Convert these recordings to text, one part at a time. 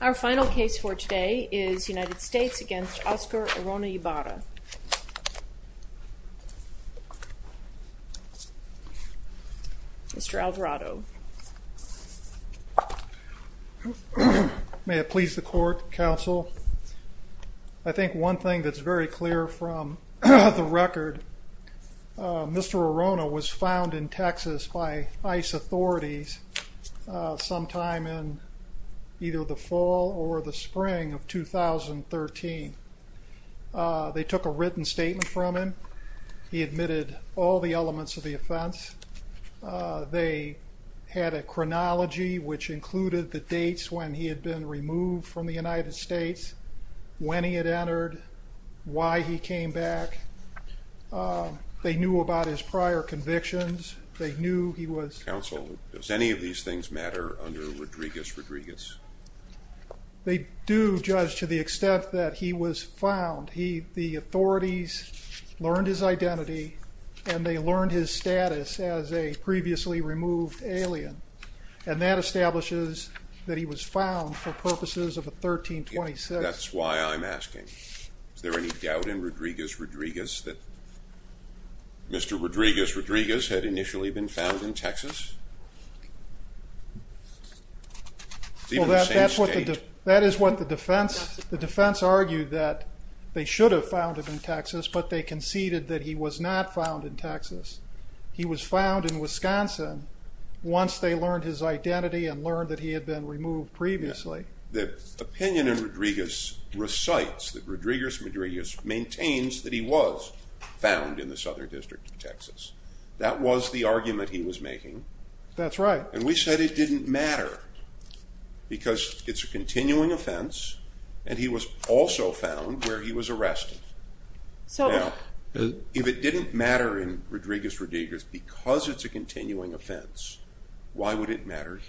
Our final case for today is United States v. Oscar Orona-Ibarra. Mr. Alvarado. May it please the Court, Counsel. I think one thing that's very clear from the record, Mr. Orona was found in Texas by ICE authorities sometime in either the fall or the spring of 2013. They took a written statement from him. He admitted all the elements of the offense. They had a chronology which included the dates when he had been removed from the United States, when he had entered, why he came back. They knew about his prior convictions. They knew he was... Counsel, does any of these things matter under Rodriguez-Rodriguez? They do, Judge, to the extent that he was found. The authorities learned his identity and they learned his status as a previously removed alien and that establishes that he was found for purposes of a 1326. That's why I'm asking, is there any doubt in Rodriguez-Rodriguez that Mr. Rodriguez-Rodriguez had initially been found in Texas? That is what the defense argued, that they should have found him in Texas, but they conceded that he was not found in Texas. He was found in Wisconsin once they learned his identity and learned that he had been removed previously. The opinion in Rodriguez recites that Rodriguez-Rodriguez maintains that he was found in the Southern District of Texas. That was the argument he was making. That's right. And we said it didn't matter because it's a continuing offense and he was also found where he was arrested. If it didn't matter in Rodriguez-Rodriguez because it's a continuing offense, why would it matter?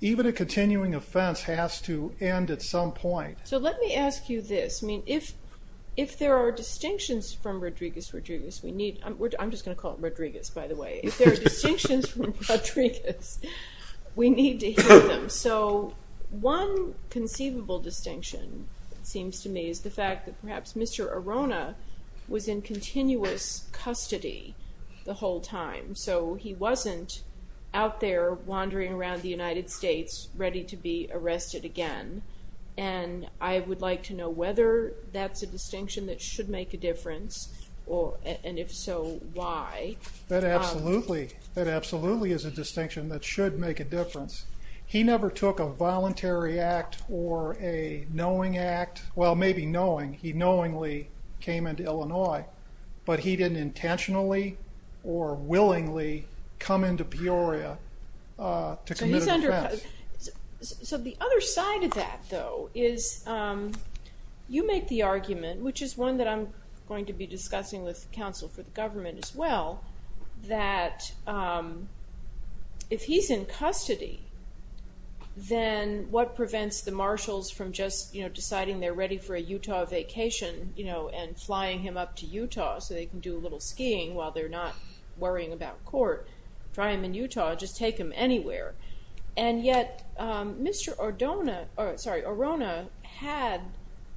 The continuing offense has to end at some point. So let me ask you this, I mean if there are distinctions from Rodriguez-Rodriguez, we need, I'm just gonna call it Rodriguez by the way, if there are distinctions from Rodriguez, we need to hear them. So one conceivable distinction seems to me is the fact that perhaps Mr. Arona was in continuous custody the whole time. So he wasn't out there wandering around the United States ready to be arrested again. And I would like to know whether that's a distinction that should make a difference or and if so, why? That absolutely, that absolutely is a distinction that should make a difference. He never took a voluntary act or a knowing act, well maybe knowing, he knowingly came into Illinois. But he didn't intentionally or into Peoria to commit an offense. So the other side of that though is you make the argument, which is one that I'm going to be discussing with counsel for the government as well, that if he's in custody then what prevents the marshals from just, you know, deciding they're ready for a Utah vacation, you know, and flying him up to Utah so they can do a little skiing while they're not worrying about court, try him in Utah, just take him anywhere. And yet Mr. Arona had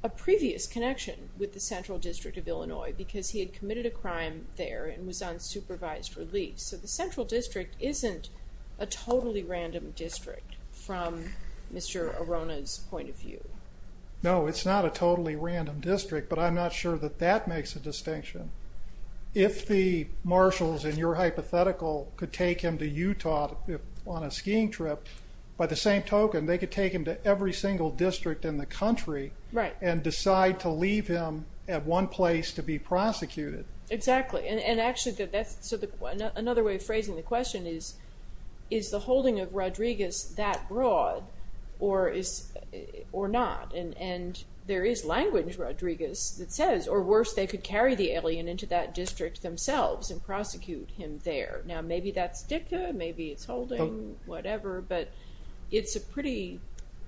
a previous connection with the Central District of Illinois because he had committed a crime there and was on supervised relief. So the Central District isn't a totally random district from Mr. Arona's point of view. No, it's not a totally random district, but I'm not sure that that makes a distinction. If the marshals in your hypothetical could take him to Utah on a skiing trip, by the same token they could take him to every single district in the country and decide to leave him at one place to be prosecuted. Exactly, and actually that's another way of phrasing the question is, is the holding of Rodriguez that broad or not? And there is language Rodriguez that says, or worse, they could carry the alien into that district themselves and prosecute him there. Now maybe that's dicta, maybe it's holding, whatever, but it's a pretty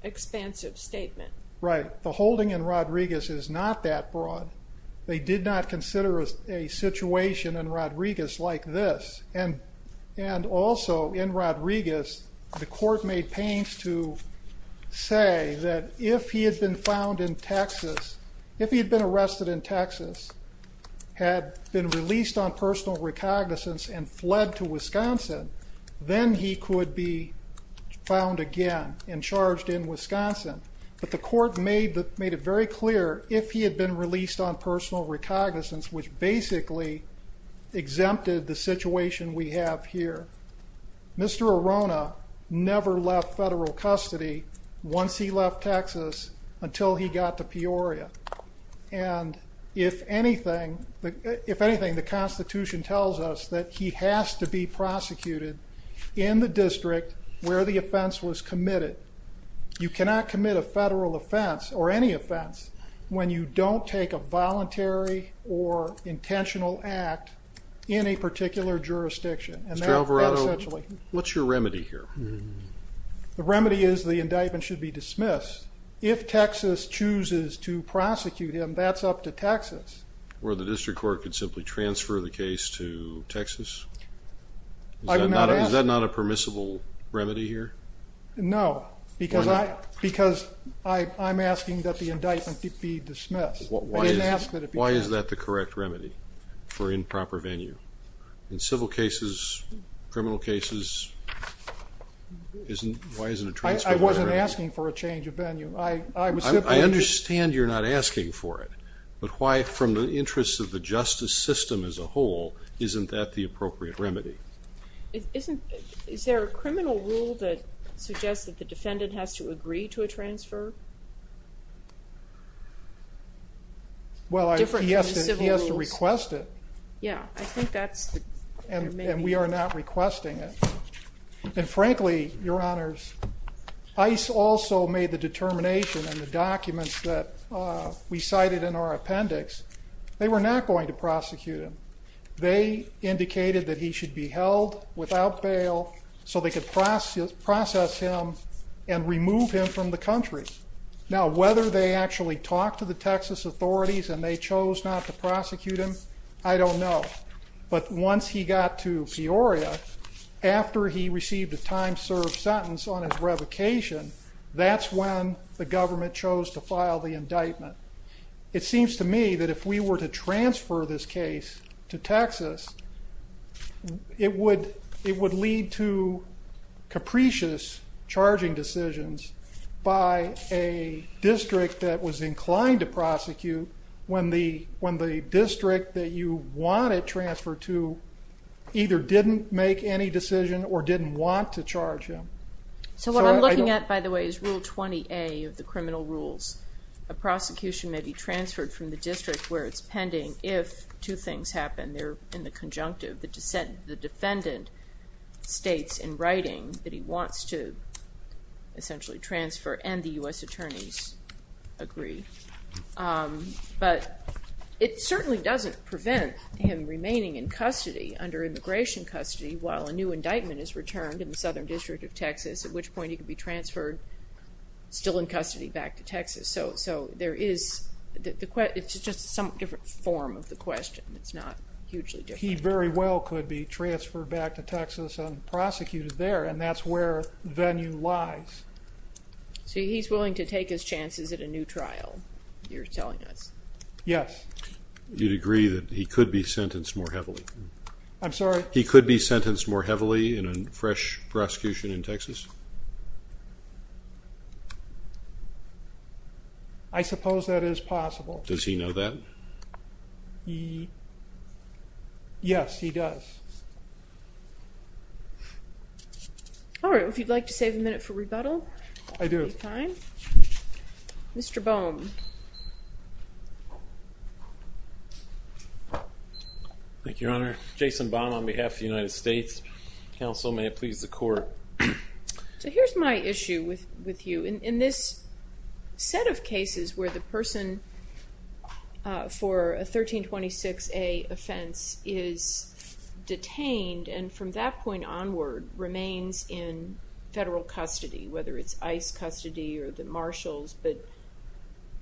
expansive statement. Right, the holding in Rodriguez is not that broad. They did not consider a situation in Rodriguez like this, and also in Rodriguez the court made pains to say that if he had been found in Texas, if he had been released on personal recognizance and fled to Wisconsin, then he could be found again and charged in Wisconsin. But the court made that made it very clear if he had been released on personal recognizance, which basically exempted the situation we have here. Mr. Arona never left federal custody once he left Texas until he got to Peoria. And if anything, the Constitution tells us that he has to be prosecuted in the district where the offense was committed. You cannot commit a federal offense or any offense when you don't take a voluntary or intentional act in a particular jurisdiction. Mr. Alvarado, what's your remedy here? The remedy is the indictment should be dismissed. If Texas chooses to prosecute him, that's up to Texas. Where the district court could simply transfer the case to Texas? Is that not a permissible remedy here? No, because I'm asking that the indictment be dismissed. Why is that the correct remedy? For improper venue. In civil cases, criminal cases, isn't, why isn't it? I wasn't asking for a change of venue. I understand you're not asking for it, but why from the interests of the justice system as a whole, isn't that the appropriate remedy? Isn't, is there a criminal rule that suggests that the defendant has to agree to a transfer? Well, he has to request it. Yeah, I think that's the remedy. And we are not requesting it. And frankly, your honors, ICE also made the determination and the documents that we cited in our appendix, they were not going to prosecute him. They indicated that he should be held without bail so they could process him and remove him from the country. Now, whether they actually talked to the Texas authorities and they chose not to prosecute him, I don't know. But once he got to Peoria, after he received a time served sentence on his revocation, that's when the government chose to file the indictment. It seems to me that if we were to transfer this case to Texas, it would lead to capricious charging decisions by a district that was inclined to prosecute when the district that you wanted transfer to either didn't make any decision or didn't want to charge him. So what I'm looking at, by the way, is Rule 20A of the pending if two things happen. They're in the conjunctive. The defendant states in writing that he wants to essentially transfer and the U.S. attorneys agree. But it certainly doesn't prevent him remaining in custody under immigration custody while a new indictment is returned in the Southern District of Texas, at which point he could be transferred, still in custody, back to Texas. So there is, it's just some different form of the question. It's not hugely different. He very well could be transferred back to Texas and prosecuted there and that's where venue lies. So he's willing to take his chances at a new trial, you're telling us? Yes. You'd agree that he could be sentenced more heavily? I'm sorry? He could be sentenced more heavily in a fresh prosecution in Texas? I suppose that is possible. Does he know that? Yes, he does. All right, if you'd like to save a minute for rebuttal. I do. Mr. Baum. Thank you, Your Honor. Jason Baum on behalf of the United States. Counsel, may it please the court. So here's my issue with you. In this set of cases where the person for a 1326A offense is detained and from that point onward remains in federal custody, whether it's ICE custody or the Marshals, but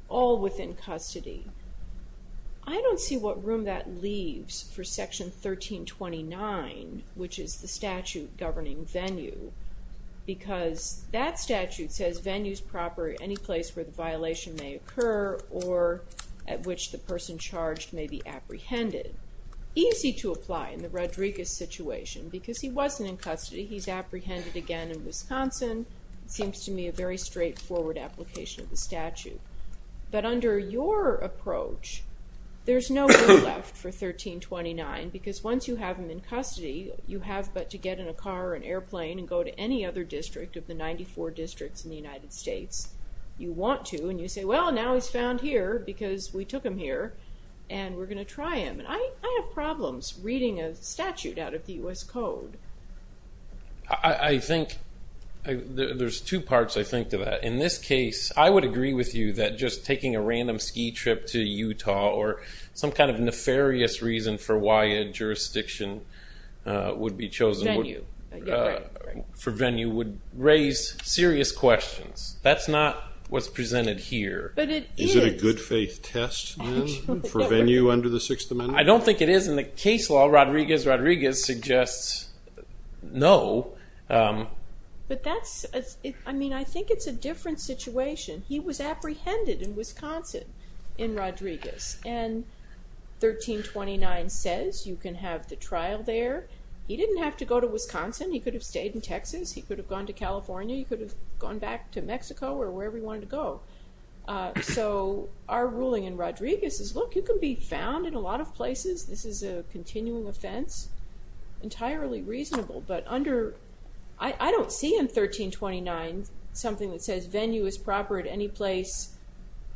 all the room that leaves for Section 1329, which is the statute governing venue, because that statute says venue is proper at any place where the violation may occur or at which the person charged may be apprehended. Easy to apply in the Rodriguez situation because he wasn't in custody, he's apprehended again in Wisconsin. It seems to me a very straightforward application of the statute. But under your approach, there's no room left for 1329 because once you have him in custody, you have but to get in a car or an airplane and go to any other district of the 94 districts in the United States you want to and you say, well, now he's found here because we took him here and we're going to try him. And I have problems reading a statute out of the U.S. Code. I think there's two parts I think to that. In this case, I would agree with you that just taking a random ski trip to Utah or some kind of nefarious reason for why a jurisdiction would be chosen for venue would raise serious questions. That's not what's presented here. But it is. Is it a good faith test then for venue under the Sixth Amendment? I don't think it is in the case law. Rodriguez, Rodriguez suggests no. But that's, I mean, I think it's a different situation. He was apprehended in Wisconsin in Rodriguez and 1329 says you can have the trial there. He didn't have to go to Wisconsin. He could have stayed in Texas. He could have gone to California. He could have gone back to Mexico or wherever he wanted to go. So our ruling in Rodriguez is, look, you can be found in a lot of places. This is a continuing offense. Entirely reasonable. But under, I don't see in 1329 something that says venue is proper at any place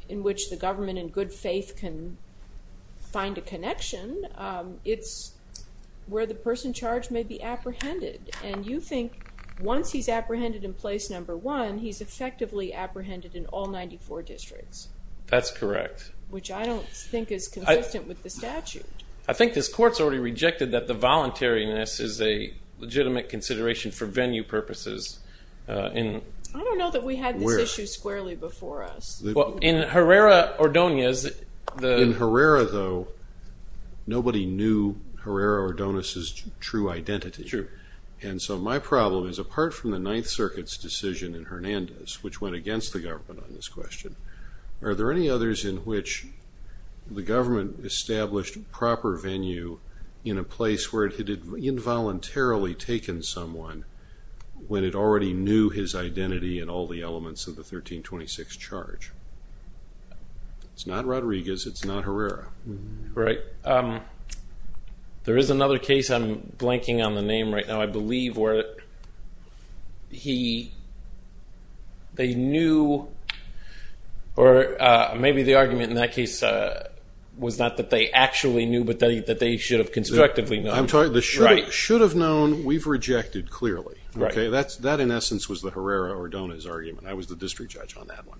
in which the government in good faith can find a connection. It's where the person charged may be apprehended. And you think once he's apprehended in place number one, he's effectively apprehended in all 94 districts. That's correct. Which I don't think is consistent with the statute. I think this court's already rejected that the voluntariness is a legitimate consideration for venue purposes. I don't know that we had this issue squarely before us. In Herrera-Ordonez. In Herrera, though, nobody knew Herrera-Ordonez's true identity. And so my problem is, apart from the Ninth Circuit's decision in Hernandez, which went against the government on this question, are there any others in which the government established proper venue in a place where it had involuntarily taken someone when it already knew his identity and all the elements of the 1326 charge? It's not Rodriguez. It's not Herrera. Right. There is another case I'm blanking on the name right now, I believe, where they knew or maybe the argument in that case was not that they actually knew, but that they should have constructively known. I'm sorry. The should have known, we've rejected clearly. Right. That, in essence, was the Herrera-Ordonez argument. I was the district judge on that one.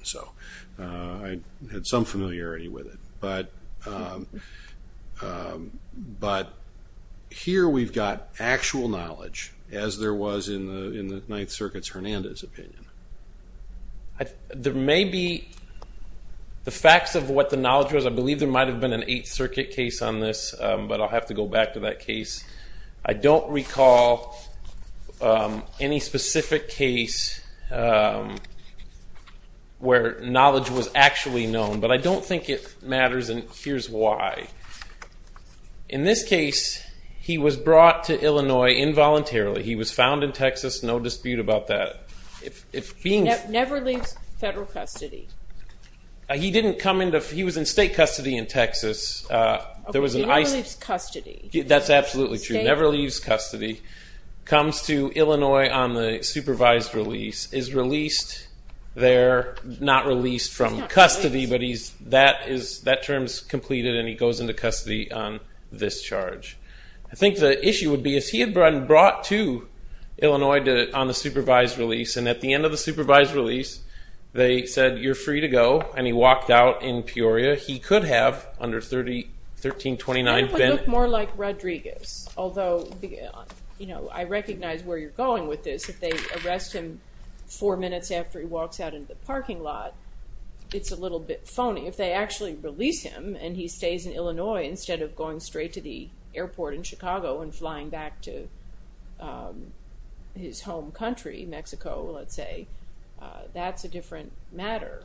I had some familiarity with it. But here we've got actual knowledge, as there was in the Ninth Circuit's Hernandez opinion. There may be the facts of what the knowledge was. I believe there might have been an Eighth Circuit case on this, but I'll have to go back to that case. I don't recall any specific case where knowledge was actually known. But I don't think it matters, and here's why. In this case, he was brought to Illinois involuntarily. He was found in Texas, no dispute about that. Never leaves federal custody. He was in state custody in Texas. Never leaves custody. That's absolutely true. Never leaves custody. Comes to Illinois on the supervised release. Is released there, not released from custody, but that term's completed and he goes into custody on this charge. I think the issue would be, if he had been brought to Illinois on the supervised release, and at the end of the supervised release, they said, you're free to go, and he walked out in Peoria. He could have, under 1329, been... It would look more like Rodriguez, although I recognize where you're going with this. If they arrest him four minutes after he walks out into the parking lot, it's a little bit phony. If they actually release him and he stays in Illinois instead of going straight to the airport in Chicago and flying back to his home country, Mexico, let's say, that's a different matter.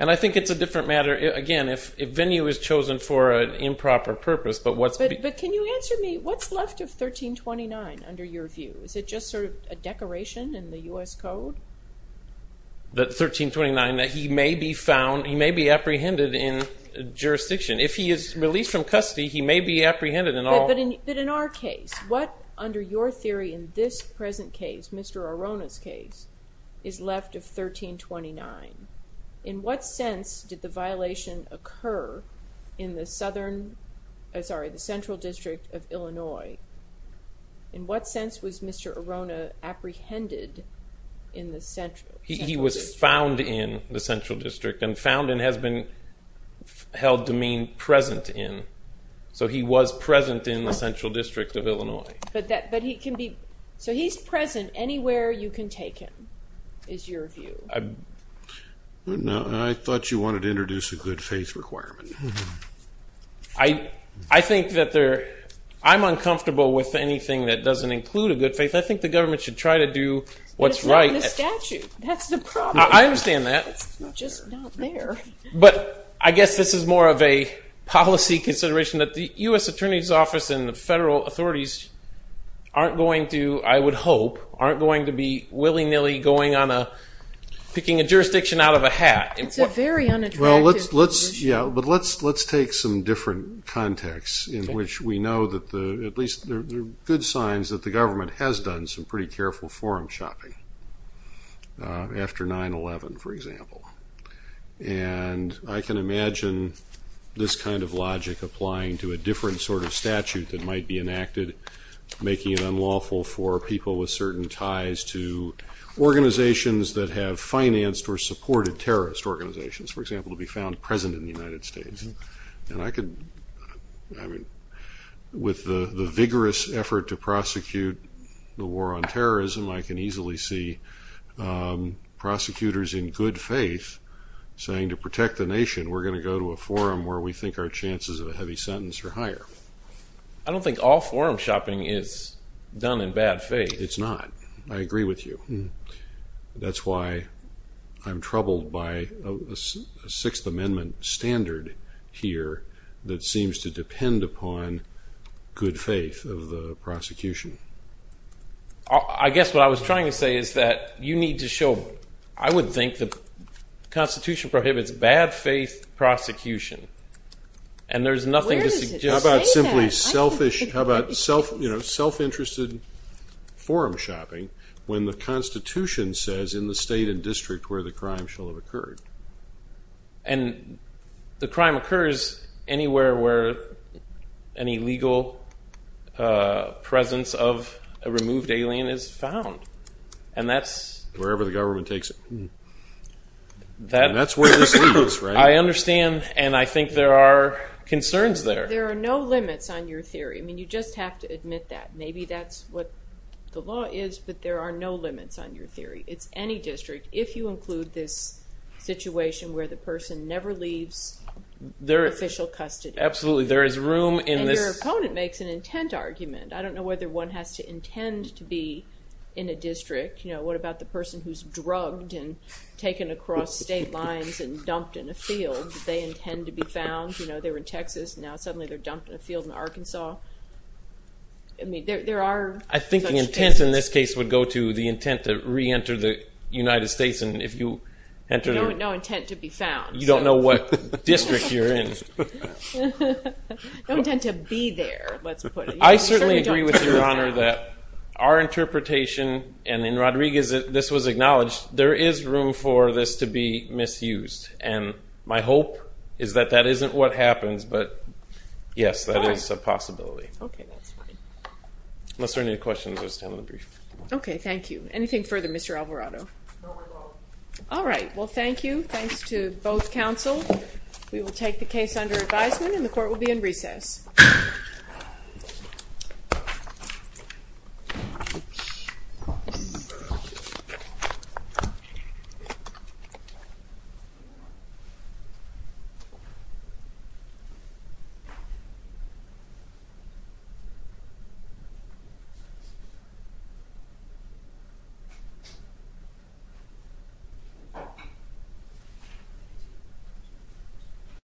And I think it's a different matter, again, if venue is chosen for an improper purpose, but what's... But can you answer me, what's left of 1329 under your view? Is it just sort of a decoration in the U.S. Code? That 1329, that he may be found, he may be apprehended in jurisdiction. If he is released from custody, he may be apprehended in all... But in our case, what, under your theory, in this present case, Mr. Arona's case, is left of 1329? In what sense did the violation occur in the central district of Illinois? In what sense was Mr. Arona apprehended in the central district? He was found in the central district, and found in has been held to mean present in. So he was present in the central district of Illinois. But he can be... So he's present anywhere you can take him, is your view. I thought you wanted to introduce a good faith requirement. I think that there... I'm uncomfortable with anything that doesn't include a good faith. I think the government should try to do what's right. But it's not in the statute. That's the problem. I understand that. It's just not there. But I guess this is more of a policy consideration that the U.S. Attorney's Office and the federal authorities aren't going to, I would hope, aren't going to be willy-nilly going on a... picking a jurisdiction out of a hat. It's a very unattractive position. Yeah, but let's take some different contexts in which we know that at least there are good signs that the government has done some pretty careful forum shopping after 9-11, for example. And I can imagine this kind of logic applying to a different sort of statute that might be enacted, making it unlawful for people with certain ties to organizations that have financed or supported terrorist organizations, for example, to be found present in the United States. And I could... I mean, with the vigorous effort to prosecute the war on terrorism, I can easily see prosecutors in good faith saying to protect the nation, we're going to go to a forum where we think our chances of a heavy sentence are higher. I don't think all forum shopping is done in bad faith. It's not. I agree with you. That's why I'm troubled by a Sixth Amendment standard here that seems to depend upon good faith of the prosecution. I guess what I was trying to say is that you need to show... I would think the Constitution prohibits bad faith prosecution, and there's nothing to suggest... How about simply selfish... how about self-interested forum shopping when the Constitution says in the state and district where the crime shall have occurred? And the crime occurs anywhere where an illegal presence of a removed alien is found. And that's... Wherever the government takes it. And that's where this leads, right? I understand, and I think there are concerns there. There are no limits on your theory. I mean, you just have to admit that. Maybe that's what the law is, but there are no limits on your theory. It's any district, if you include this situation where the person never leaves official custody. Absolutely, there is room in this... And your opponent makes an intent argument. I don't know whether one has to intend to be in a district. What about the person who's drugged and taken across state lines and dumped in a field? They intend to be found. They were in Texas, and now suddenly they're dumped in a field in Arkansas. I mean, there are... I think the intent in this case would go to the intent to reenter the United States, and if you enter... No intent to be found. You don't know what district you're in. No intent to be there, let's put it. I certainly agree with Your Honor that our interpretation, and in Rodriguez this was acknowledged, there is room for this to be misused. And my hope is that that isn't what happens, but, yes, that is a possibility. Okay, that's fine. Unless there are any questions, I will stand on the brief. Okay, thank you. Anything further, Mr. Alvarado? No, we're both. All right, well, thank you. Thanks to both counsel. We will take the case under advisement, and the court will be in recess. Thank you.